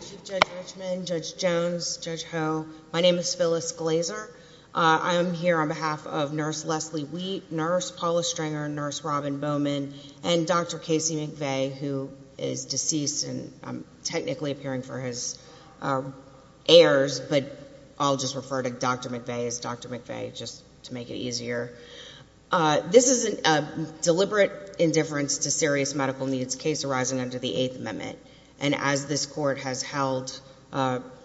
Chief Judge Richmond, Judge Jones, Judge Ho, my name is Phyllis Glazer. I am here on behalf of Nurse Leslie Wheat, Nurse Paula Stringer, Nurse Robin Bowman, and Dr. Casey McVay, who is Dr. McVay, just to make it easier. This is a deliberate indifference to serious medical needs case arising under the Eighth Amendment, and as this Court has held,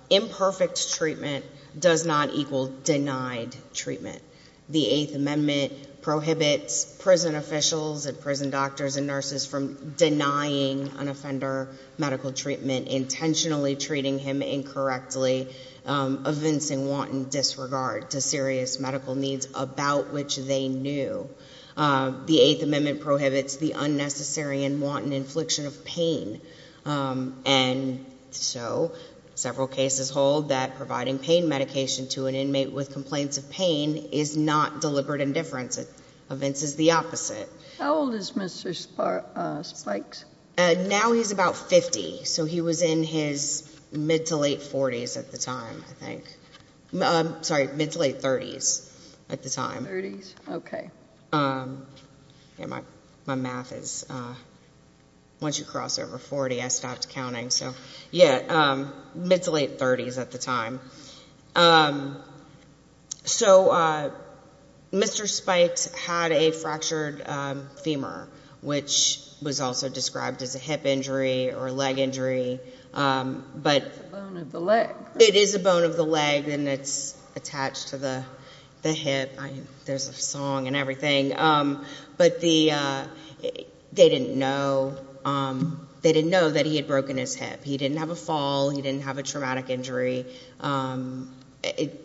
imperfect treatment does not equal denied treatment. The Eighth Amendment prohibits prison officials and prison doctors and nurses from denying an offender medical treatment, intentionally treating him incorrectly, evincing wanton disregard to serious medical needs about which they knew. The Eighth Amendment prohibits the unnecessary and wanton infliction of pain, and so several cases hold that providing pain medication to an inmate with complaints of pain is not deliberate indifference. It evinces the opposite. How old is Mr. Spikes? Now he's about 50, so he was in his mid-to-late 40s at the time, I think. Sorry, mid-to-late 30s at the time. 30s, okay. Yeah, my math is, once you cross over 40, I stopped counting, so yeah, mid-to-late 30s at the time. So Mr. Spikes had a fractured femur, which was also described as a hip injury or a leg injury. It's a bone of the leg. It is a bone of the leg, and it's attached to the hip. There's a song and everything. But they didn't know that he had broken his hip. He didn't have a fall. He didn't have a traumatic injury.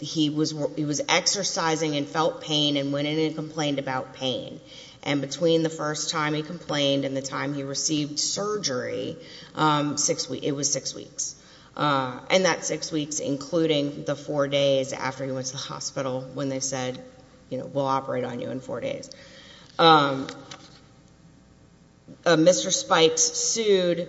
He was exercising and felt pain and went in and complained about pain, and between the first time he complained and the time he received surgery, it was six weeks, and that six weeks including the four days after he went to the hospital when they said, you know, we'll operate on you in four days. Mr. Spikes sued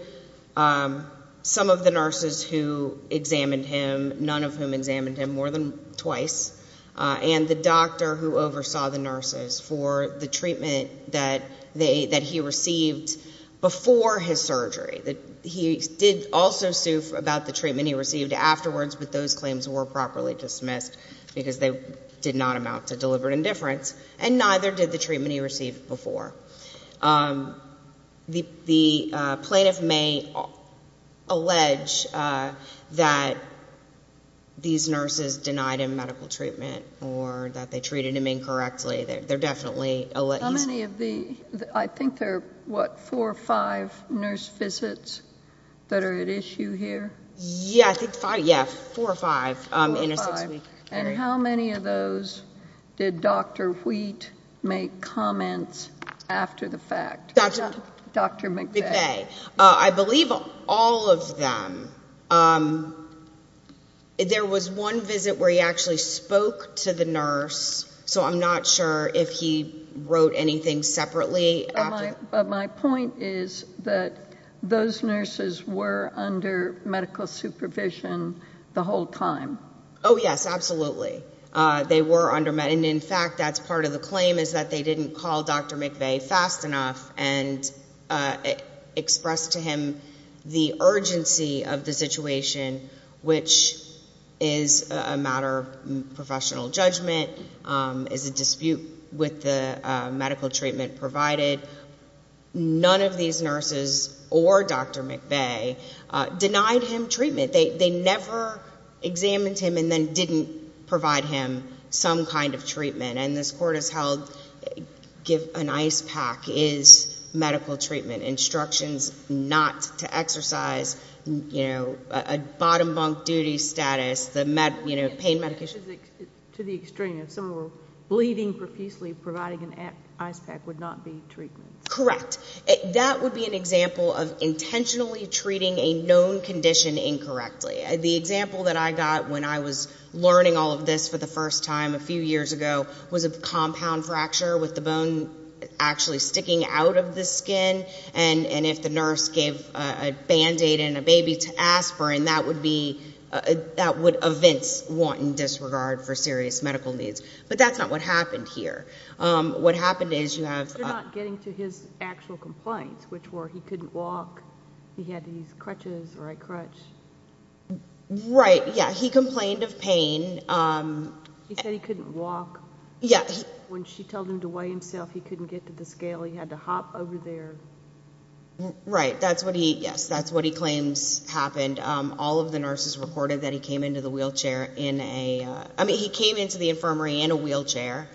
some of the nurses who examined him, none of whom examined him more than twice, and the doctor who oversaw the nurses for the treatment that he received before his surgery. He did also sue about the treatment he received afterwards, but those claims were properly dismissed because they did not amount to deliberate indifference, and neither did the treatment he received before. The plaintiff may allege that these nurses denied him medical treatment or that they treated him incorrectly. They're definitely alleges. How many of the, I think there are, what, four or five nurse visits that are at issue here? Yeah, I think five, yeah, four or five in a six-week period. And how many of those did Dr. Wheat make comments after the fact? Dr. McVeigh. I believe all of them. There was one visit where he actually spoke to the nurse, so I'm not sure if he wrote anything separately after. But my point is that those nurses were under medical supervision the whole time. Oh, yes, absolutely. And in fact, that's part of the claim is that they didn't call Dr. McVeigh fast enough and expressed to him the urgency of the situation, which is a matter of professional judgment, is a dispute with the medical treatment provided. None of these nurses or Dr. McVeigh denied him treatment. They never examined him and then didn't provide him some kind of treatment. And this Court has held an ice pack is medical treatment. Instructions not to exercise, you know, a bottom bunk duty status, pain medication. To the extreme, if someone were bleeding profusely, providing an ice pack would not be treatment. Correct. That would be an example of intentionally treating a known condition incorrectly. The example that I got when I was learning all of this for the first time a few years ago was a compound fracture with the bone actually sticking out of the skin. And if the nurse gave a Band-Aid and a baby to aspirin, that would be, that would evince wanton disregard for serious medical needs. But that's not what happened here. What happened is you have... You're not getting to his actual complaints, which were he couldn't walk. He had these crutches or a crutch. Right. Yeah. He complained of pain. He said he couldn't walk. When she told him to weigh himself, he couldn't get to the scale. He had to hop over there. Right. That's what he, yes, that's what he claims happened. All of the nurses reported that he came into the wheelchair in a, I mean, he came into the infirmary in a wheelchair.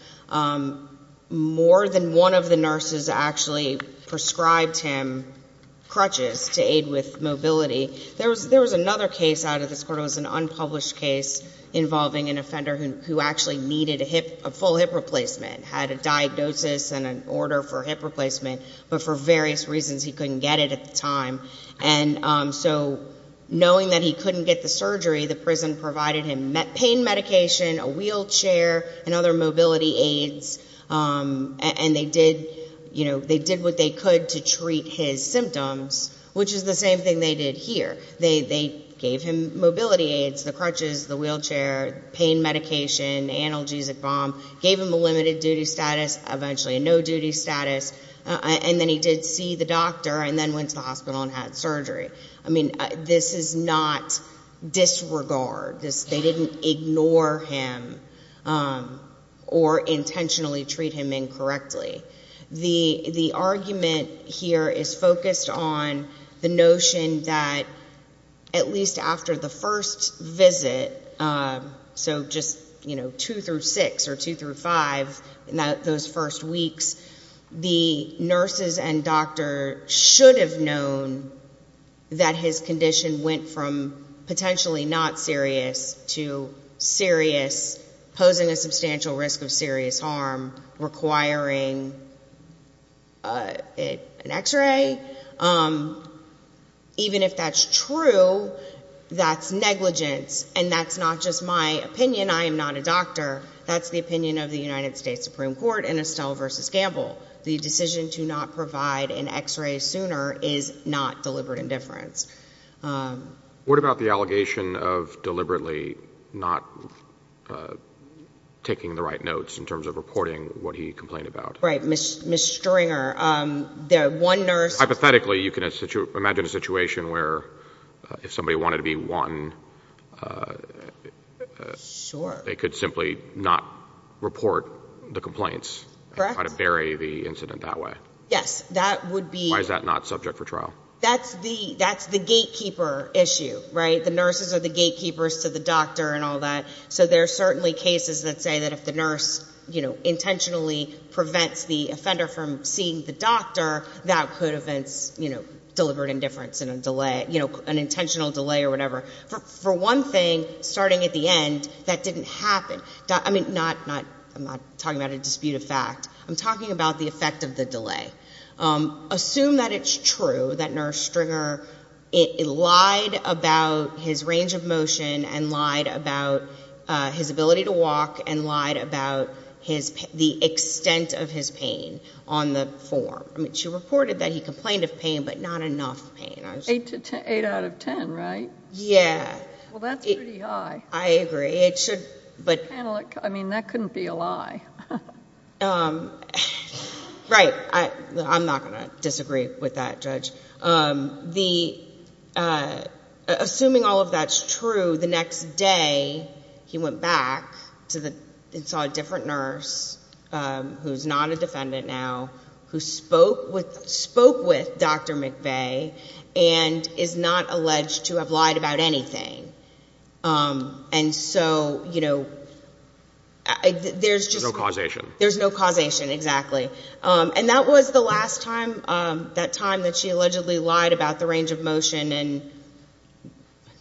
More than one of the nurses actually prescribed him crutches to aid with mobility. There was another case out of this Court. There was an unpublished case involving an offender who actually needed a hip, a full hip replacement, had a diagnosis and an order for hip replacement, but for various reasons he couldn't get it at the time. And so knowing that he couldn't get the surgery, the prison provided him pain medication, a wheelchair, and other mobility aids. And they did, you know, they did what they could to treat his symptoms, which is the same thing they did here. They gave him mobility aids, the crutches, the wheelchair, pain medication, analgesic balm, gave him a limited duty status, eventually a no-duty status, and then he did see the doctor and then went to the hospital and had surgery. I mean, this is not disregard. They didn't ignore him or intentionally treat him incorrectly. The argument here is focused on the notion that at least after the first visit, so just, you know, two through six or two through five in those first weeks, the nurses and doctor should have known that his condition went from potentially not serious to serious, posing a substantial risk of serious harm, requiring an X-ray. Even if that's true, that's negligence, and that's not just my opinion. I am not a doctor. That's the opinion of the United States Supreme Court in Estelle v. Gamble. The decision to not provide an X-ray sooner is not deliberate indifference. What about the allegation of deliberately not taking the right notes in terms of reporting what he complained about? Right. Ms. Stringer, the one nurse. Hypothetically, you can imagine a situation where if somebody wanted to be one, they could simply not report the complaints and try to bury the incident that way. Yes, that would be. Why is that not subject for trial? That's the gatekeeper issue, right? The nurses are the gatekeepers to the doctor and all that, so there are certainly cases that say that if the nurse intentionally prevents the offender from seeing the doctor, that could have been deliberate indifference and an intentional delay or whatever. For one thing, starting at the end, that didn't happen. I mean, I'm not talking about a dispute of fact. I'm talking about the effect of the delay. Assume that it's true that Nurse Stringer lied about his range of motion and lied about his ability to walk and lied about the extent of his pain on the form. I mean, she reported that he complained of pain but not enough pain. Eight out of ten, right? Yeah. Well, that's pretty high. I agree. I mean, that couldn't be a lie. Right. I'm not going to disagree with that, Judge. Assuming all of that's true, the next day he went back and saw a different nurse, who's not a defendant now, who spoke with Dr. McVeigh and is not alleged to have lied about anything. And so, you know, there's just no causation. There's no causation, exactly. And that was the last time that she allegedly lied about the range of motion and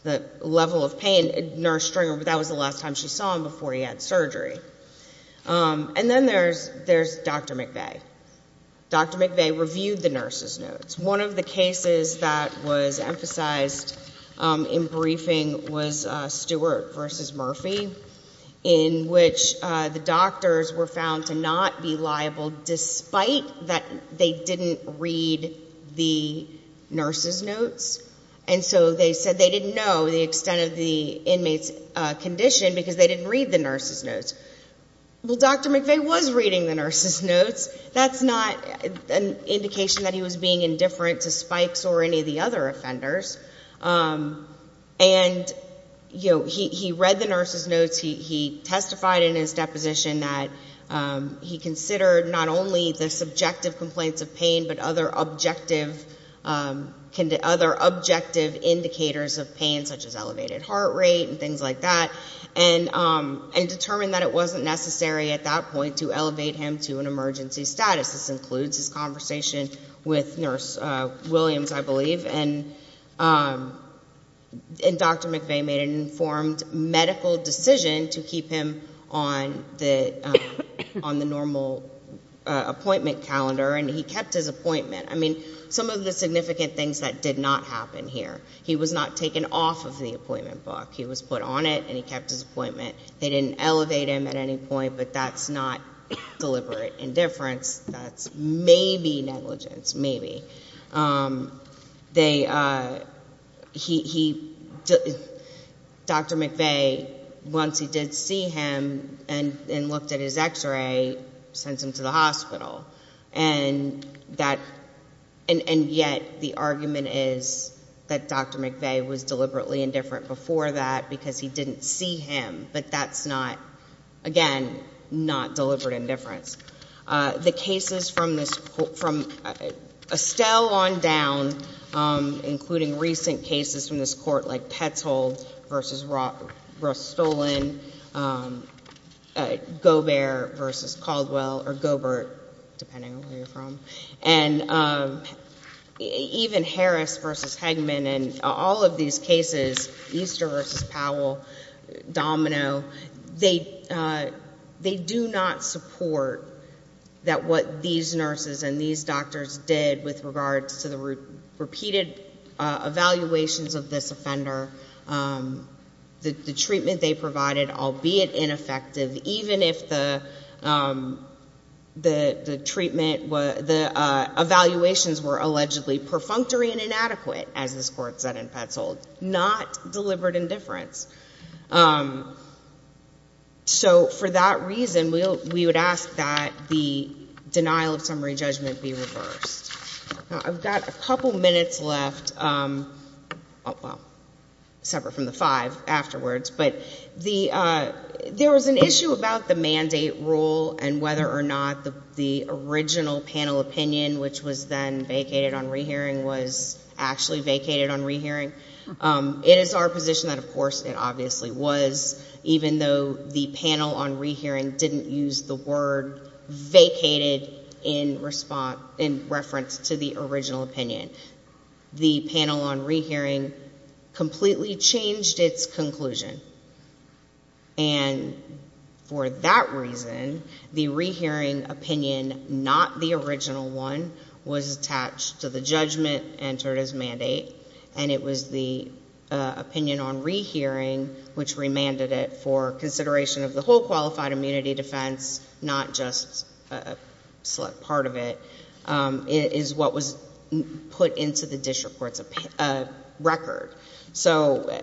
the level of pain in Nurse Stringer. That was the last time she saw him before he had surgery. And then there's Dr. McVeigh. Dr. McVeigh reviewed the nurse's notes. One of the cases that was emphasized in briefing was Stewart v. Murphy, in which the doctors were found to not be liable despite that they didn't read the nurse's notes. And so they said they didn't know the extent of the inmate's condition because they didn't read the nurse's notes. Well, Dr. McVeigh was reading the nurse's notes. That's not an indication that he was being indifferent to Spikes or any of the other offenders. And, you know, he read the nurse's notes. He testified in his deposition that he considered not only the subjective complaints of pain but other objective indicators of pain, such as elevated heart rate and things like that, and determined that it wasn't necessary at that point to elevate him to an emergency status. This includes his conversation with Nurse Williams, I believe. And Dr. McVeigh made an informed medical decision to keep him on the normal appointment calendar, and he kept his appointment. I mean, some of the significant things that did not happen here. He was not taken off of the appointment book. He was put on it, and he kept his appointment. They didn't elevate him at any point, but that's not deliberate indifference. That's maybe negligence, maybe. Dr. McVeigh, once he did see him and looked at his X-ray, sent him to the hospital. And yet the argument is that Dr. McVeigh was deliberately indifferent before that because he didn't see him, but that's not, again, not deliberate indifference. The cases from Estelle on down, including recent cases from this court, like Petzold v. Rostolan, Gobert v. Caldwell, or Gobert, depending on where you're from, and even Harris v. Hegman and all of these cases, Easter v. Powell, Domino, they do not support that what these nurses and these doctors did with regards to the repeated evaluations of this offender, the treatment they provided, albeit ineffective, even if the treatment, the evaluations were allegedly perfunctory and inadequate, as this court said in Petzold, not deliberate indifference. So for that reason, we would ask that the denial of summary judgment be reversed. I've got a couple minutes left. Well, separate from the five afterwards, but there was an issue about the mandate rule and whether or not the original panel opinion, which was then vacated on rehearing, was actually vacated on rehearing. It is our position that, of course, it obviously was, even though the panel on rehearing didn't use the word vacated in reference to the original opinion. The panel on rehearing completely changed its conclusion, and for that reason, the rehearing opinion, not the original one, was attached to the judgment entered as mandate, and it was the opinion on rehearing which remanded it for consideration of the whole qualified immunity defense, not just a select part of it, is what was put into the district court's record. So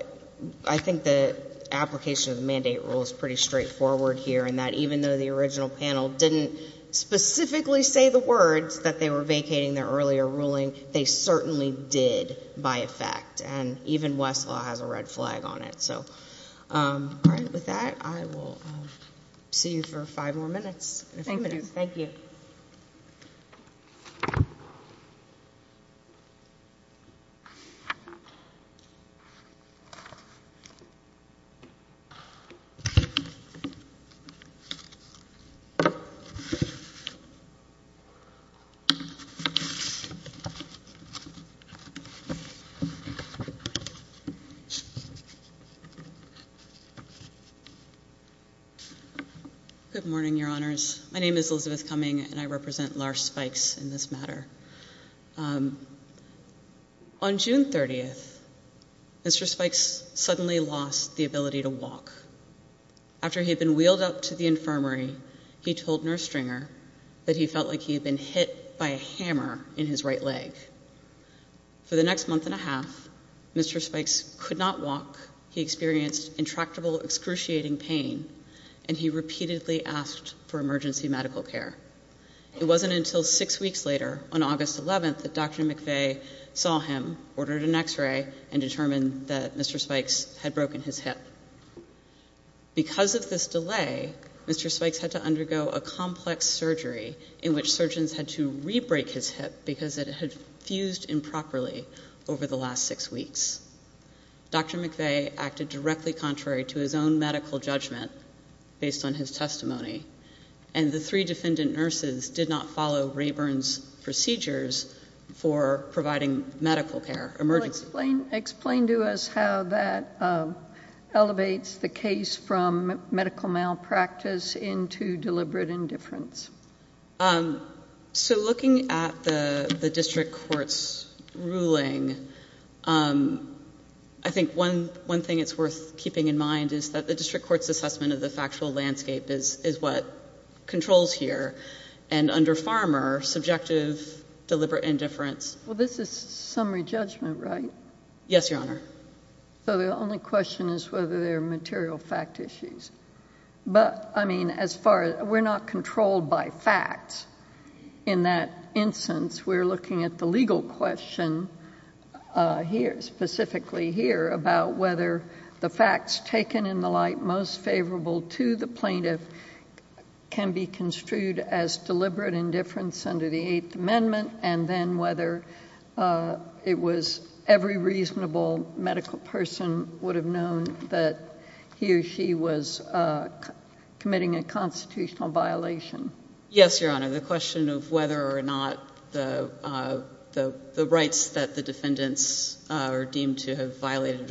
I think the application of the mandate rule is pretty straightforward here in that even though the original panel didn't specifically say the words that they were vacating their earlier ruling, they certainly did by effect, and even Westlaw has a red flag on it. So with that, I will see you for five more minutes. Thank you. Thank you. Good morning, Your Honors. My name is Elizabeth Cumming, and I represent Lars Spikes in this matter. On June 30th, Mr. Spikes suddenly lost the ability to walk. After he had been wheeled up to the infirmary, he told Nurse Stringer that he felt like he had been hit by a hammer in his right leg. For the next month and a half, Mr. Spikes could not walk. He experienced intractable excruciating pain, and he repeatedly asked for emergency medical care. It wasn't until six weeks later on August 11th that Dr. McVeigh saw him, ordered an X-ray, and determined that Mr. Spikes had broken his hip. Because of this delay, Mr. Spikes had to undergo a complex surgery in which surgeons had to re-break his hip because it had fused improperly over the last six weeks. Dr. McVeigh acted directly contrary to his own medical judgment based on his testimony, and the three defendant nurses did not follow Rayburn's procedures for providing medical care. Explain to us how that elevates the case from medical malpractice into deliberate indifference. So looking at the district court's ruling, I think one thing it's worth keeping in mind is that the district court's assessment of the factual landscape is what controls here, and under Farmer, subjective deliberate indifference. Well, this is summary judgment, right? Yes, Your Honor. So the only question is whether there are material fact issues. But, I mean, as far as we're not controlled by facts in that instance, we're looking at the legal question here, specifically here, about whether the facts taken in the light most favorable to the plaintiff can be construed as deliberate indifference under the Eighth Amendment and then whether it was every reasonable medical person would have known that he or she was committing a constitutional violation. Yes, Your Honor. The question of whether or not the rights that the defendants are deemed to have violated,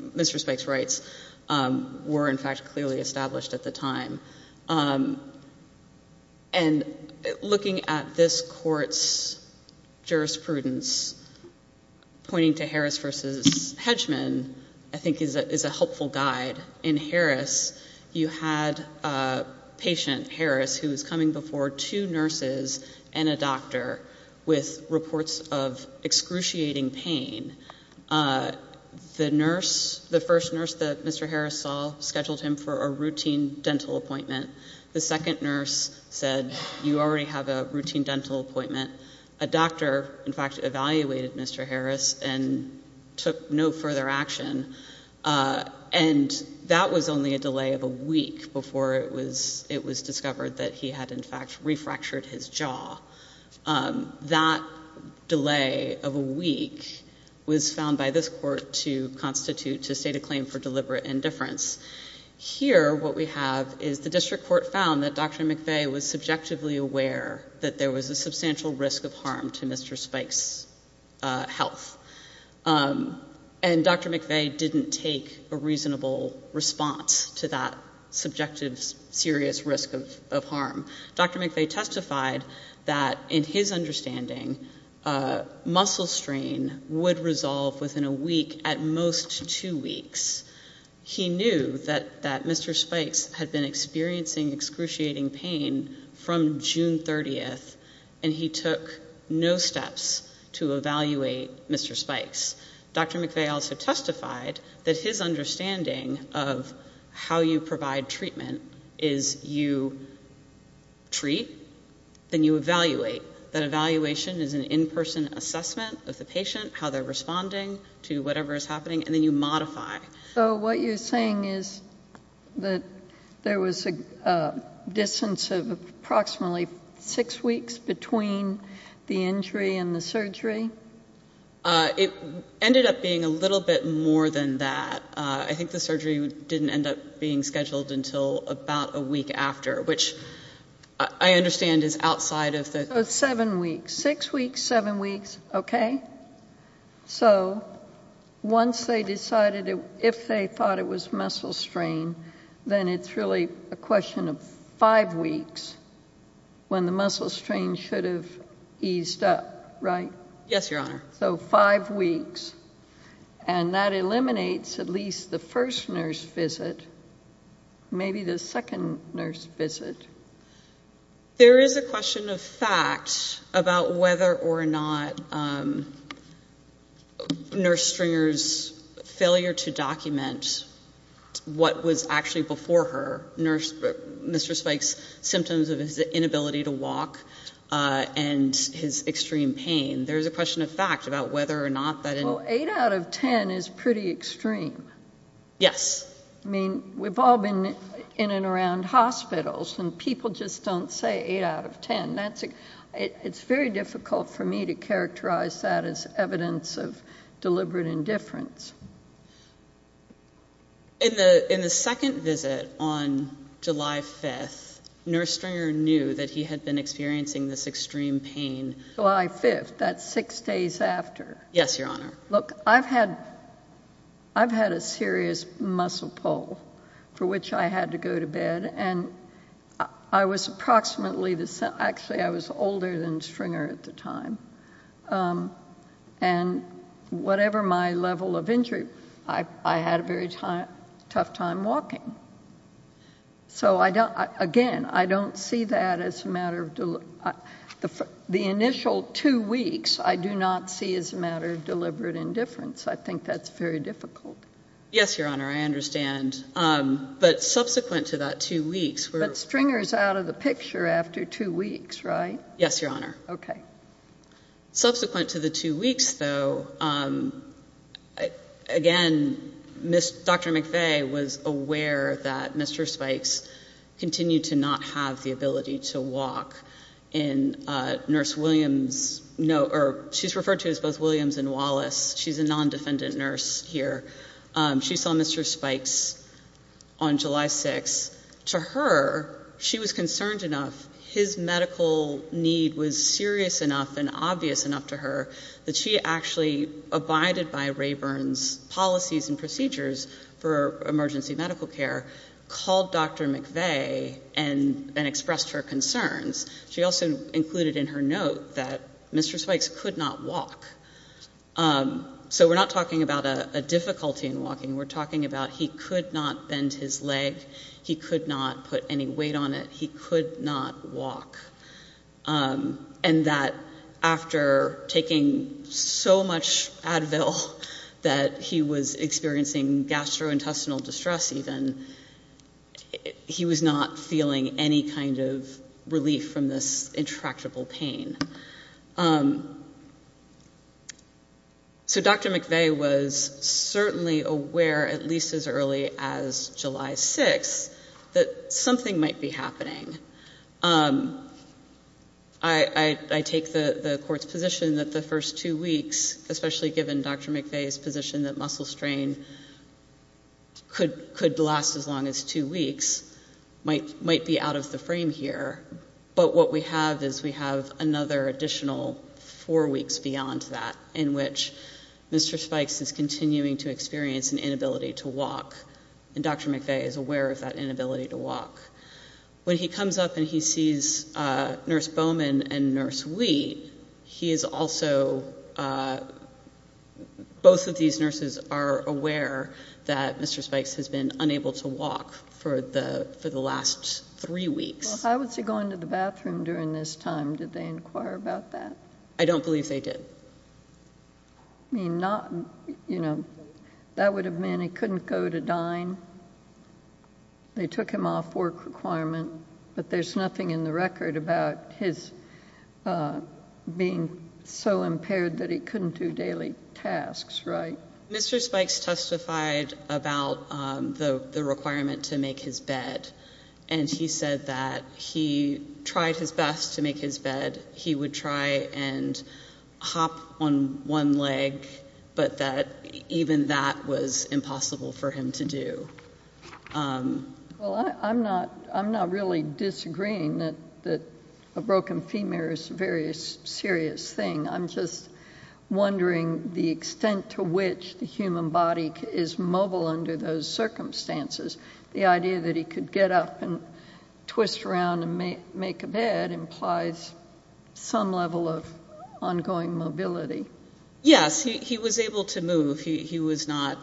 misrespects rights, were, in fact, clearly established at the time. And looking at this court's jurisprudence, pointing to Harris v. Hedgeman, I think is a helpful guide. In Harris, you had patient Harris who was coming before two nurses and a doctor with reports of excruciating pain. The nurse, the first nurse that Mr. Harris saw, scheduled him for a routine dental appointment. The second nurse said, you already have a routine dental appointment. A doctor, in fact, evaluated Mr. Harris and took no further action. And that was only a delay of a week before it was discovered that he had, in fact, refractured his jaw. That delay of a week was found by this court to constitute, to state a claim for deliberate indifference. Here, what we have is the district court found that Dr. McVeigh was subjectively aware that there was a substantial risk of harm to Mr. Spike's health. And Dr. McVeigh didn't take a reasonable response to that subjective, serious risk of harm. Dr. McVeigh testified that, in his understanding, muscle strain would resolve within a week, at most two weeks. He knew that Mr. Spike's had been experiencing excruciating pain from June 30th, and he took no steps to evaluate Mr. Spike's. Dr. McVeigh also testified that his understanding of how you provide treatment is you treat, then you evaluate. That evaluation is an in-person assessment of the patient, how they're responding to whatever is happening, and then you modify. So what you're saying is that there was a distance of approximately six weeks between the injury and the surgery? It ended up being a little bit more than that. I think the surgery didn't end up being scheduled until about a week after, which I understand is outside of the- So seven weeks, six weeks, seven weeks, okay. So once they decided if they thought it was muscle strain, then it's really a question of five weeks when the muscle strain should have eased up, right? Yes, Your Honor. So five weeks, and that eliminates at least the first nurse visit, maybe the second nurse visit. There is a question of fact about whether or not Nurse Stringer's failure to document what was actually before her, Mr. Spike's symptoms of his inability to walk and his extreme pain. There is a question of fact about whether or not that- Well, eight out of ten is pretty extreme. Yes. I mean, we've all been in and around hospitals, and people just don't say eight out of ten. It's very difficult for me to characterize that as evidence of deliberate indifference. In the second visit on July 5th, Nurse Stringer knew that he had been experiencing this extreme pain- That's six days after. Yes, Your Honor. Look, I've had a serious muscle pull for which I had to go to bed, and I was approximately the same- Actually, I was older than Stringer at the time, and whatever my level of injury, I had a very tough time walking. So, again, I don't see that as a matter of- The initial two weeks, I do not see as a matter of deliberate indifference. I think that's very difficult. Yes, Your Honor. I understand. But subsequent to that two weeks- But Stringer's out of the picture after two weeks, right? Yes, Your Honor. Okay. Again, Dr. McVeigh was aware that Mr. Spikes continued to not have the ability to walk, and Nurse Williams- She's referred to as both Williams and Wallace. She's a non-defendant nurse here. She saw Mr. Spikes on July 6th. To her, she was concerned enough. His medical need was serious enough and obvious enough to her that she actually abided by Rayburn's policies and procedures for emergency medical care, called Dr. McVeigh, and expressed her concerns. She also included in her note that Mr. Spikes could not walk. So we're not talking about a difficulty in walking. We're talking about he could not bend his leg, he could not put any weight on it, he could not walk, and that after taking so much Advil that he was experiencing gastrointestinal distress even, he was not feeling any kind of relief from this intractable pain. So Dr. McVeigh was certainly aware, at least as early as July 6th, that something might be happening. I take the court's position that the first two weeks, especially given Dr. McVeigh's position that muscle strain could last as long as two weeks, might be out of the frame here. But what we have is we have another additional four weeks beyond that in which Mr. Spikes is continuing to experience an inability to walk, and Dr. McVeigh is aware of that inability to walk. When he comes up and he sees Nurse Bowman and Nurse Wheat, he is also, both of these nurses are aware that Mr. Spikes has been unable to walk for the last three weeks. Well, how was he going to the bathroom during this time? Did they inquire about that? I don't believe they did. I mean, that would have meant he couldn't go to dine. They took him off work requirement, but there's nothing in the record about his being so impaired that he couldn't do daily tasks, right? Mr. Spikes testified about the requirement to make his bed, and he said that he tried his best to make his bed. He would try and hop on one leg, but that even that was impossible for him to do. Well, I'm not really disagreeing that a broken femur is a very serious thing. I'm just wondering the extent to which the human body is mobile under those circumstances. The idea that he could get up and twist around and make a bed implies some level of ongoing mobility. Yes, he was able to move. He was not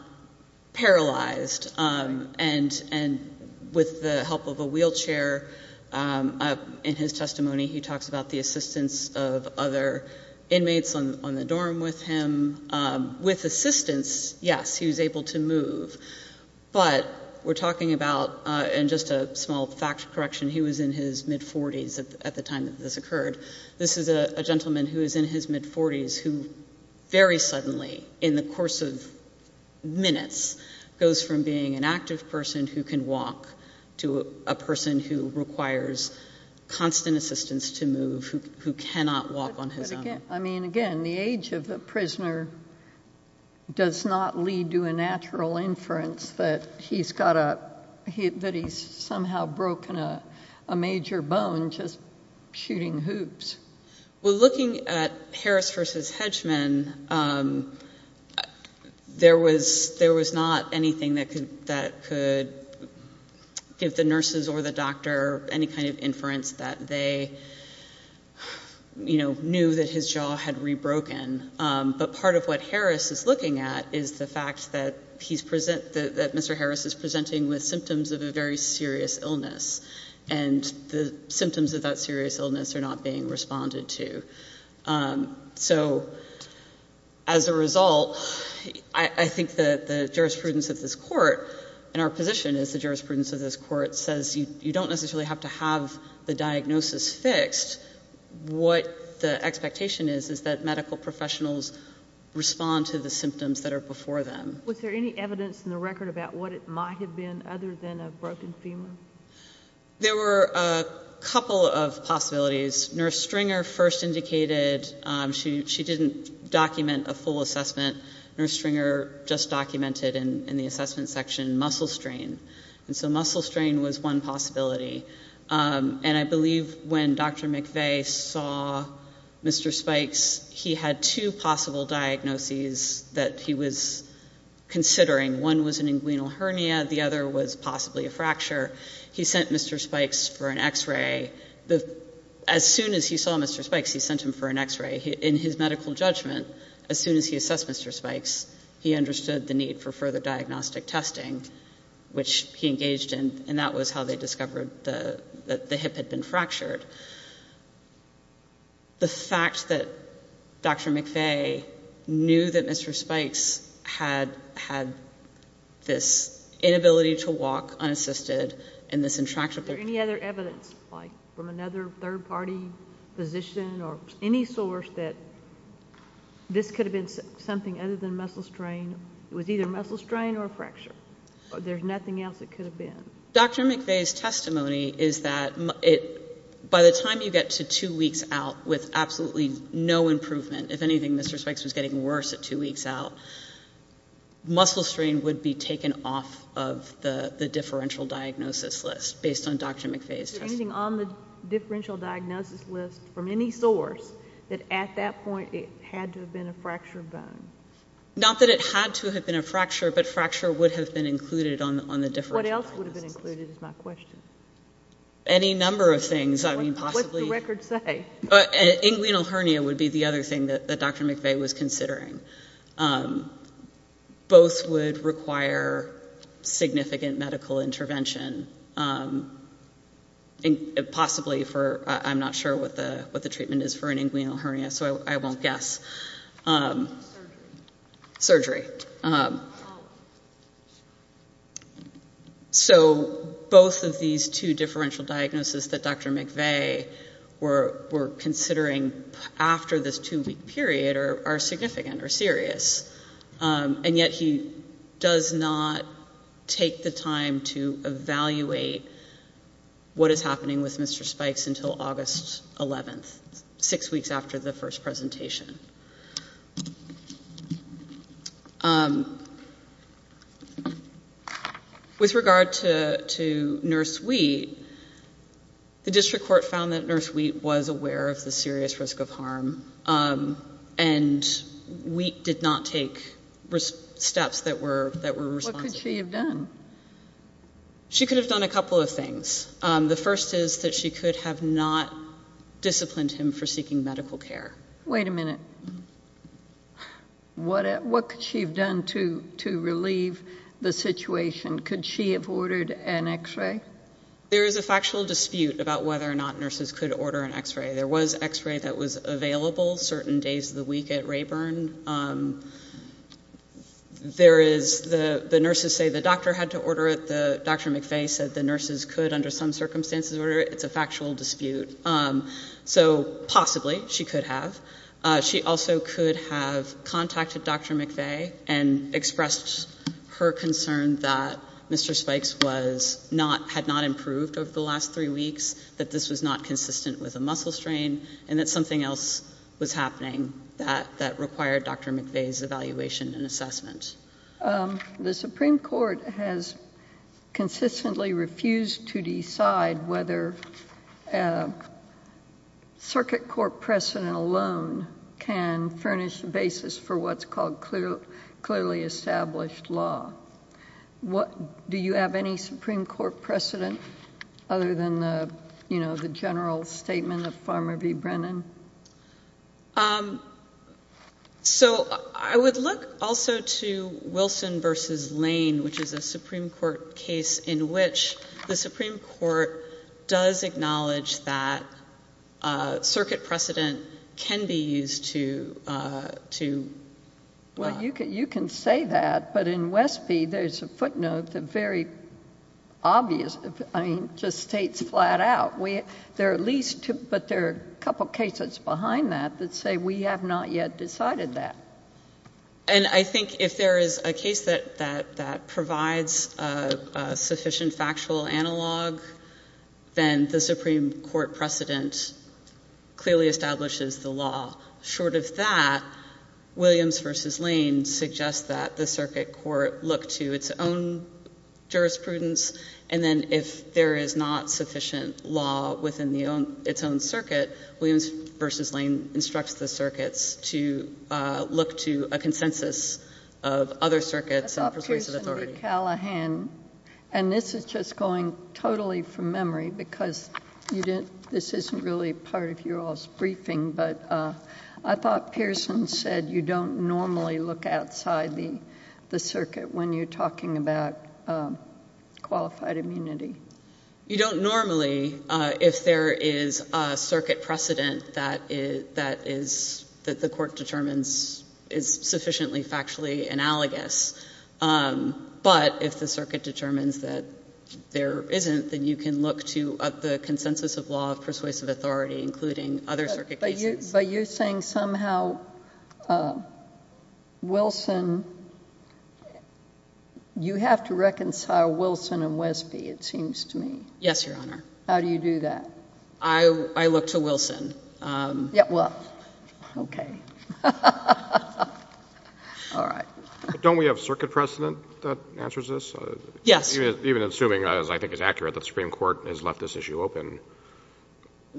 paralyzed, and with the help of a wheelchair, in his testimony, he talks about the assistance of other inmates on the dorm with him. With assistance, yes, he was able to move, but we're talking about, and just a small fact correction, he was in his mid-40s at the time that this occurred. This is a gentleman who is in his mid-40s who very suddenly, in the course of minutes, goes from being an active person who can walk to a person who requires constant assistance to move, who cannot walk on his own. I mean, again, the age of the prisoner does not lead to a natural inference that he's somehow broken a major bone just shooting hoops. Well, looking at Harris versus Hedgman, there was not anything that could give the nurses or the doctor any kind of inference that they knew that his jaw had rebroken. But part of what Harris is looking at is the fact that Mr. Harris is presenting with symptoms of a very serious illness, and the symptoms of that serious illness are not being responded to. So as a result, I think the jurisprudence of this court, and our position is the jurisprudence of this court, says you don't necessarily have to have the diagnosis fixed. What the expectation is is that medical professionals respond to the symptoms that are before them. Was there any evidence in the record about what it might have been other than a broken femur? There were a couple of possibilities. Nurse Stringer first indicated she didn't document a full assessment. Nurse Stringer just documented in the assessment section muscle strain. And so muscle strain was one possibility. And I believe when Dr. McVeigh saw Mr. Spikes, he had two possible diagnoses that he was considering. One was an inguinal hernia. The other was possibly a fracture. He sent Mr. Spikes for an X-ray. As soon as he saw Mr. Spikes, he sent him for an X-ray. In his medical judgment, as soon as he assessed Mr. Spikes, he understood the need for further diagnostic testing, which he engaged in, and that was how they discovered that the hip had been fractured. The fact that Dr. McVeigh knew that Mr. Spikes had had this inability to walk, unassisted, and this infraction. Was there any other evidence, like from another third-party physician or any source, that this could have been something other than muscle strain? It was either muscle strain or a fracture. There's nothing else it could have been. Dr. McVeigh's testimony is that by the time you get to two weeks out with absolutely no improvement, if anything, Mr. Spikes was getting worse at two weeks out, muscle strain would be taken off of the differential diagnosis list based on Dr. McVeigh's testimony. Is there anything on the differential diagnosis list from any source that at that point it had to have been a fractured bone? Not that it had to have been a fracture, but fracture would have been included on the differential diagnosis list. What else would have been included is my question. Any number of things. What does the record say? Inguinal hernia would be the other thing that Dr. McVeigh was considering. Both would require significant medical intervention, possibly for, I'm not sure what the treatment is for an inguinal hernia, so I won't guess. Surgery. So both of these two differential diagnoses that Dr. McVeigh were considering after this two-week period are significant or serious, and yet he does not take the time to evaluate what is happening with Mr. Spikes until August 11th, six weeks after the first presentation. With regard to Nurse Wheat, the district court found that Nurse Wheat was aware of the serious risk of harm, and Wheat did not take steps that were responsive. What could she have done? She could have done a couple of things. The first is that she could have not disciplined him for seeking medical care. Wait a minute. What could she have done to relieve the situation? Could she have ordered an X-ray? There is a factual dispute about whether or not nurses could order an X-ray. There was X-ray that was available certain days of the week at Rayburn. The nurses say the doctor had to order it. Dr. McVeigh said the nurses could, under some circumstances, order it. It's a factual dispute. So possibly she could have. She also could have contacted Dr. McVeigh and expressed her concern that Mr. Spikes had not improved over the last three weeks, that this was not consistent with a muscle strain, and that something else was happening that required Dr. McVeigh's evaluation and assessment. The Supreme Court has consistently refused to decide whether circuit court precedent alone can furnish the basis for what's called clearly established law. Do you have any Supreme Court precedent other than the general statement of Farmer v. Brennan? So I would look also to Wilson v. Lane, which is a Supreme Court case in which the Supreme Court does acknowledge that circuit precedent can be used to... Well, you can say that, but in Westby, there's a footnote that very obvious, I mean, just states flat out. There are at least two, but there are a couple cases behind that that say we have not yet decided that. And I think if there is a case that provides sufficient factual analog, then the Supreme Court precedent clearly establishes the law. Short of that, Williams v. Lane suggests that the circuit court look to its own jurisprudence, and then if there is not sufficient law within its own circuit, Williams v. Lane instructs the circuits to look to a consensus of other circuits and persuasive authority. I thought Pearson v. Callahan, and this is just going totally from memory because this isn't really part of your all's briefing, but I thought Pearson said you don't normally look outside the circuit when you're talking about qualified immunity. You don't normally if there is a circuit precedent that the court determines is sufficiently factually analogous. But if the circuit determines that there isn't, then you can look to the consensus of law of persuasive authority, including other circuit cases. But you're saying somehow Wilson, you have to reconcile Wilson and Wesby, it seems to me. Yes, Your Honor. How do you do that? I look to Wilson. Well, okay. All right. Don't we have circuit precedent that answers this? Yes. Even assuming, as I think is accurate, that the Supreme Court has left this issue open,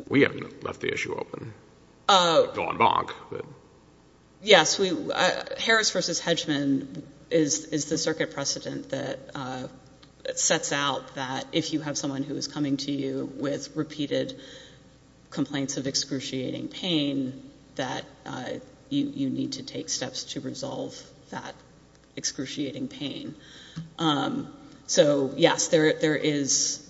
we haven't left the issue open. We've gone bonk. Harris v. Hedgman is the circuit precedent that sets out that if you have someone who is coming to you with repeated complaints of excruciating pain, that you need to take steps to resolve that excruciating pain. So, yes, there is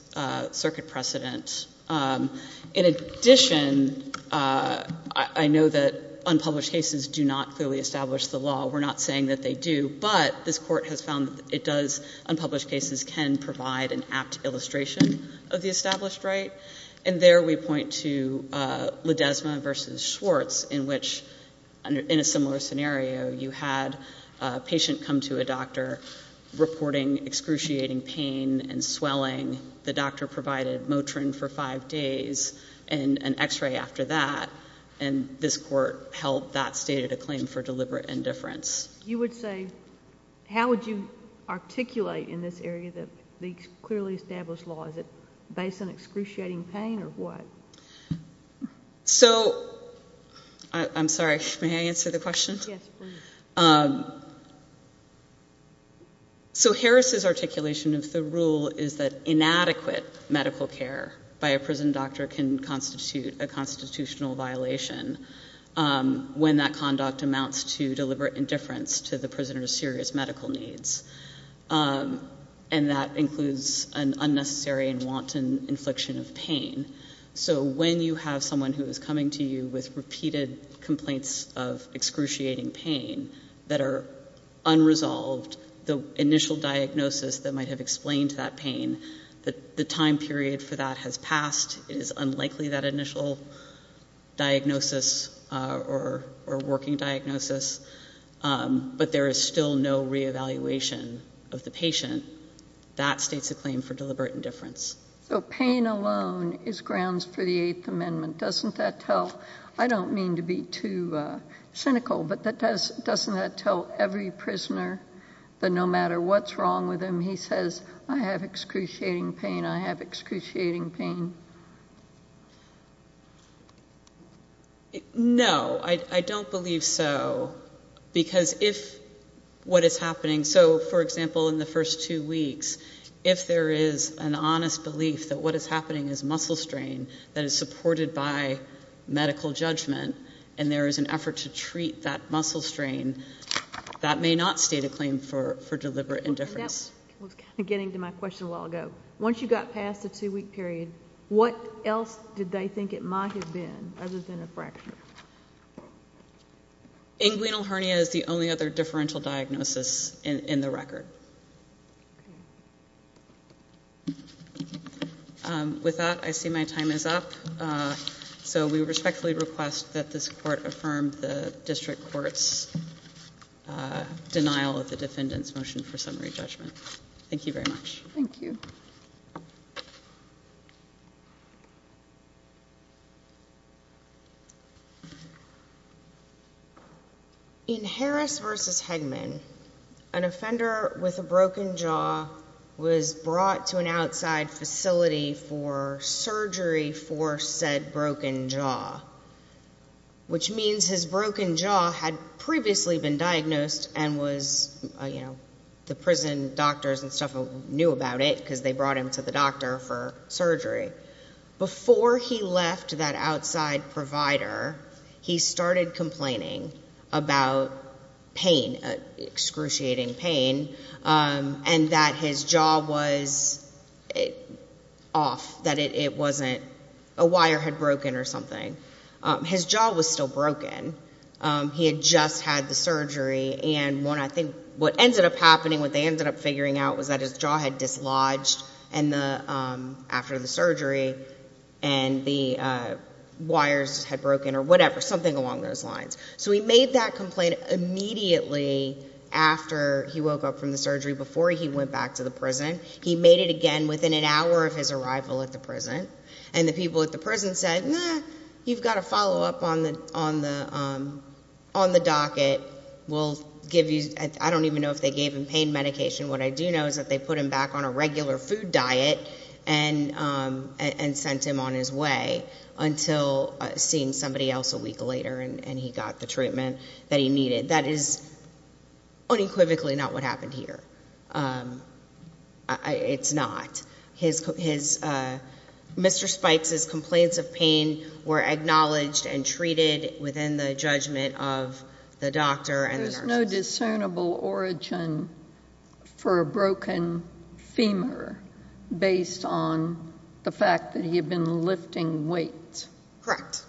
circuit precedent. In addition, I know that unpublished cases do not clearly establish the law. We're not saying that they do. But this Court has found that it does, unpublished cases can provide an apt illustration of the established right. And there we point to Ledesma v. Schwartz in which, in a similar scenario, you had a patient come to a doctor reporting excruciating pain and swelling. The doctor provided Motrin for five days and an X-ray after that. And this Court held that stated a claim for deliberate indifference. You would say, how would you articulate in this area that the clearly established law, is it based on excruciating pain or what? So, I'm sorry, may I answer the question? Yes, please. So Harris's articulation of the rule is that inadequate medical care by a prison doctor can constitute a constitutional violation when that conduct amounts to deliberate indifference to the prisoner's serious medical needs. And that includes an unnecessary and wanton infliction of pain. So when you have someone who is coming to you with repeated complaints of excruciating pain that are unresolved, the initial diagnosis that might have explained that pain, the time period for that has passed. It is unlikely that initial diagnosis or working diagnosis, but there is still no reevaluation of the patient. That states a claim for deliberate indifference. So pain alone is grounds for the Eighth Amendment, doesn't that tell? I don't mean to be too cynical, but doesn't that tell every prisoner that no matter what's wrong with him, he says, I have excruciating pain, I have excruciating pain? No, I don't believe so. Because if what is happening, so, for example, in the first two weeks, if there is an honest belief that what is happening is muscle strain that is supported by medical judgment and there is an effort to treat that muscle strain, that may not state a claim for deliberate indifference. Getting to my question a while ago, once you got past the two-week period, what else did they think it might have been other than a fracture? Inguinal hernia is the only other differential diagnosis in the record. With that, I see my time is up. So we respectfully request that this court affirm the district court's denial of the defendant's motion for summary judgment. Thank you very much. Thank you. In Harris v. Hegman, an offender with a broken jaw was brought to an outside facility for surgery for said broken jaw, which means his broken jaw had previously been diagnosed and was, you know, the prison doctors and stuff knew about it because they brought him to the doctor for surgery. Before he left that outside provider, he started complaining about pain, excruciating pain, and that his jaw was off, that it wasn't, a wire had broken or something. His jaw was still broken. He had just had the surgery, and I think what ended up happening, what they ended up figuring out, was that his jaw had dislodged after the surgery, and the wires had broken or whatever, something along those lines. So he made that complaint immediately after he woke up from the surgery, before he went back to the prison. He made it again within an hour of his arrival at the prison, and the people at the prison said, eh, you've got a follow-up on the docket. We'll give you, I don't even know if they gave him pain medication. What I do know is that they put him back on a regular food diet and sent him on his way until seeing somebody else a week later, and he got the treatment that he needed. That is unequivocally not what happened here. It's not. Mr. Spikes's complaints of pain were acknowledged and treated within the judgment of the doctor and the nurse. There's no discernible origin for a broken femur based on the fact that he had been lifting weights. Correct.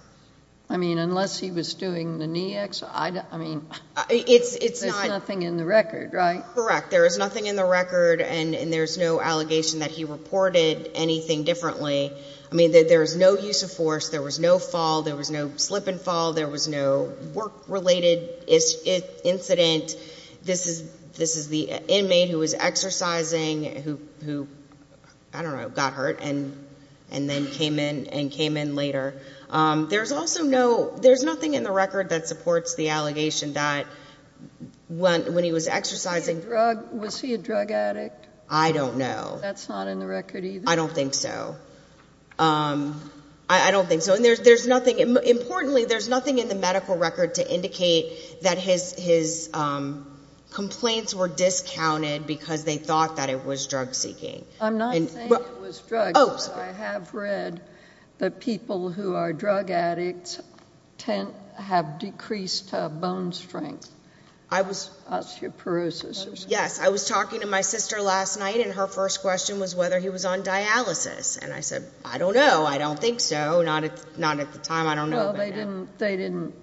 I mean, unless he was doing the knee exercise. I mean, there's nothing in the record, right? Correct. There is nothing in the record, and there's no allegation that he reported anything differently. I mean, there was no use of force. There was no fall. There was no slip and fall. There was no work-related incident. This is the inmate who was exercising who, I don't know, got hurt and then came in and came in later. There's nothing in the record that supports the allegation that when he was exercising. Was he a drug addict? I don't know. That's not in the record either? I don't think so. I don't think so. And importantly, there's nothing in the medical record to indicate that his complaints were discounted because they thought that it was drug-seeking. I'm not saying it was drug-seeking. I have read that people who are drug addicts have decreased bone strength, osteoporosis. Yes. I was talking to my sister last night, and her first question was whether he was on dialysis. And I said, I don't know. I don't think so. Not at the time. I don't know. Well, they didn't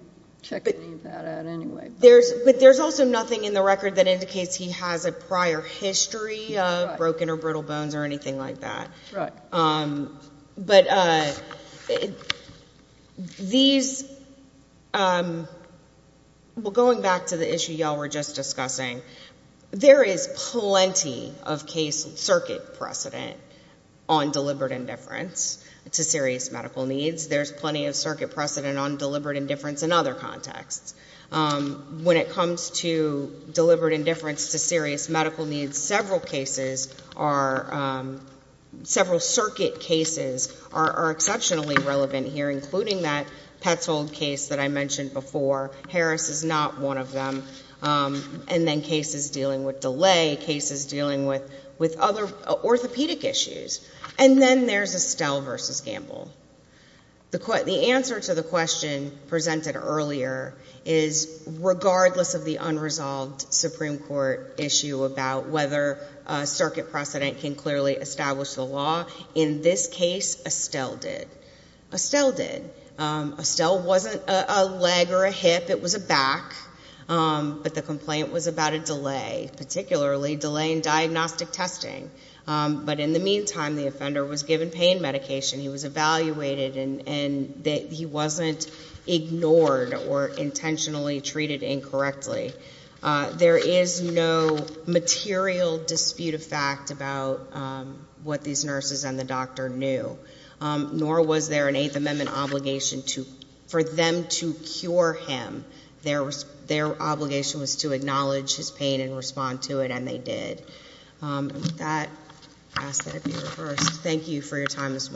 check any of that out anyway. But there's also nothing in the record that indicates he has a prior history of broken or brittle bones or anything like that. Right. But these, well, going back to the issue y'all were just discussing, there is plenty of case circuit precedent on deliberate indifference to serious medical needs. There's plenty of circuit precedent on deliberate indifference in other contexts. When it comes to deliberate indifference to serious medical needs, several cases are, several circuit cases are exceptionally relevant here, including that Petzold case that I mentioned before. Harris is not one of them. And then cases dealing with delay, cases dealing with other orthopedic issues. And then there's Estelle versus Gamble. The answer to the question presented earlier is regardless of the unresolved Supreme Court issue about whether circuit precedent can clearly establish the law, in this case Estelle did. Estelle did. Estelle wasn't a leg or a hip. It was a back. But the complaint was about a delay, particularly delay in diagnostic testing. But in the meantime, the offender was given pain medication. He was evaluated and he wasn't ignored or intentionally treated incorrectly. There is no material dispute of fact about what these nurses and the doctor knew, nor was there an Eighth Amendment obligation for them to cure him. Their obligation was to acknowledge his pain and respond to it, and they did. With that, I ask that it be reversed. Thank you for your time this morning.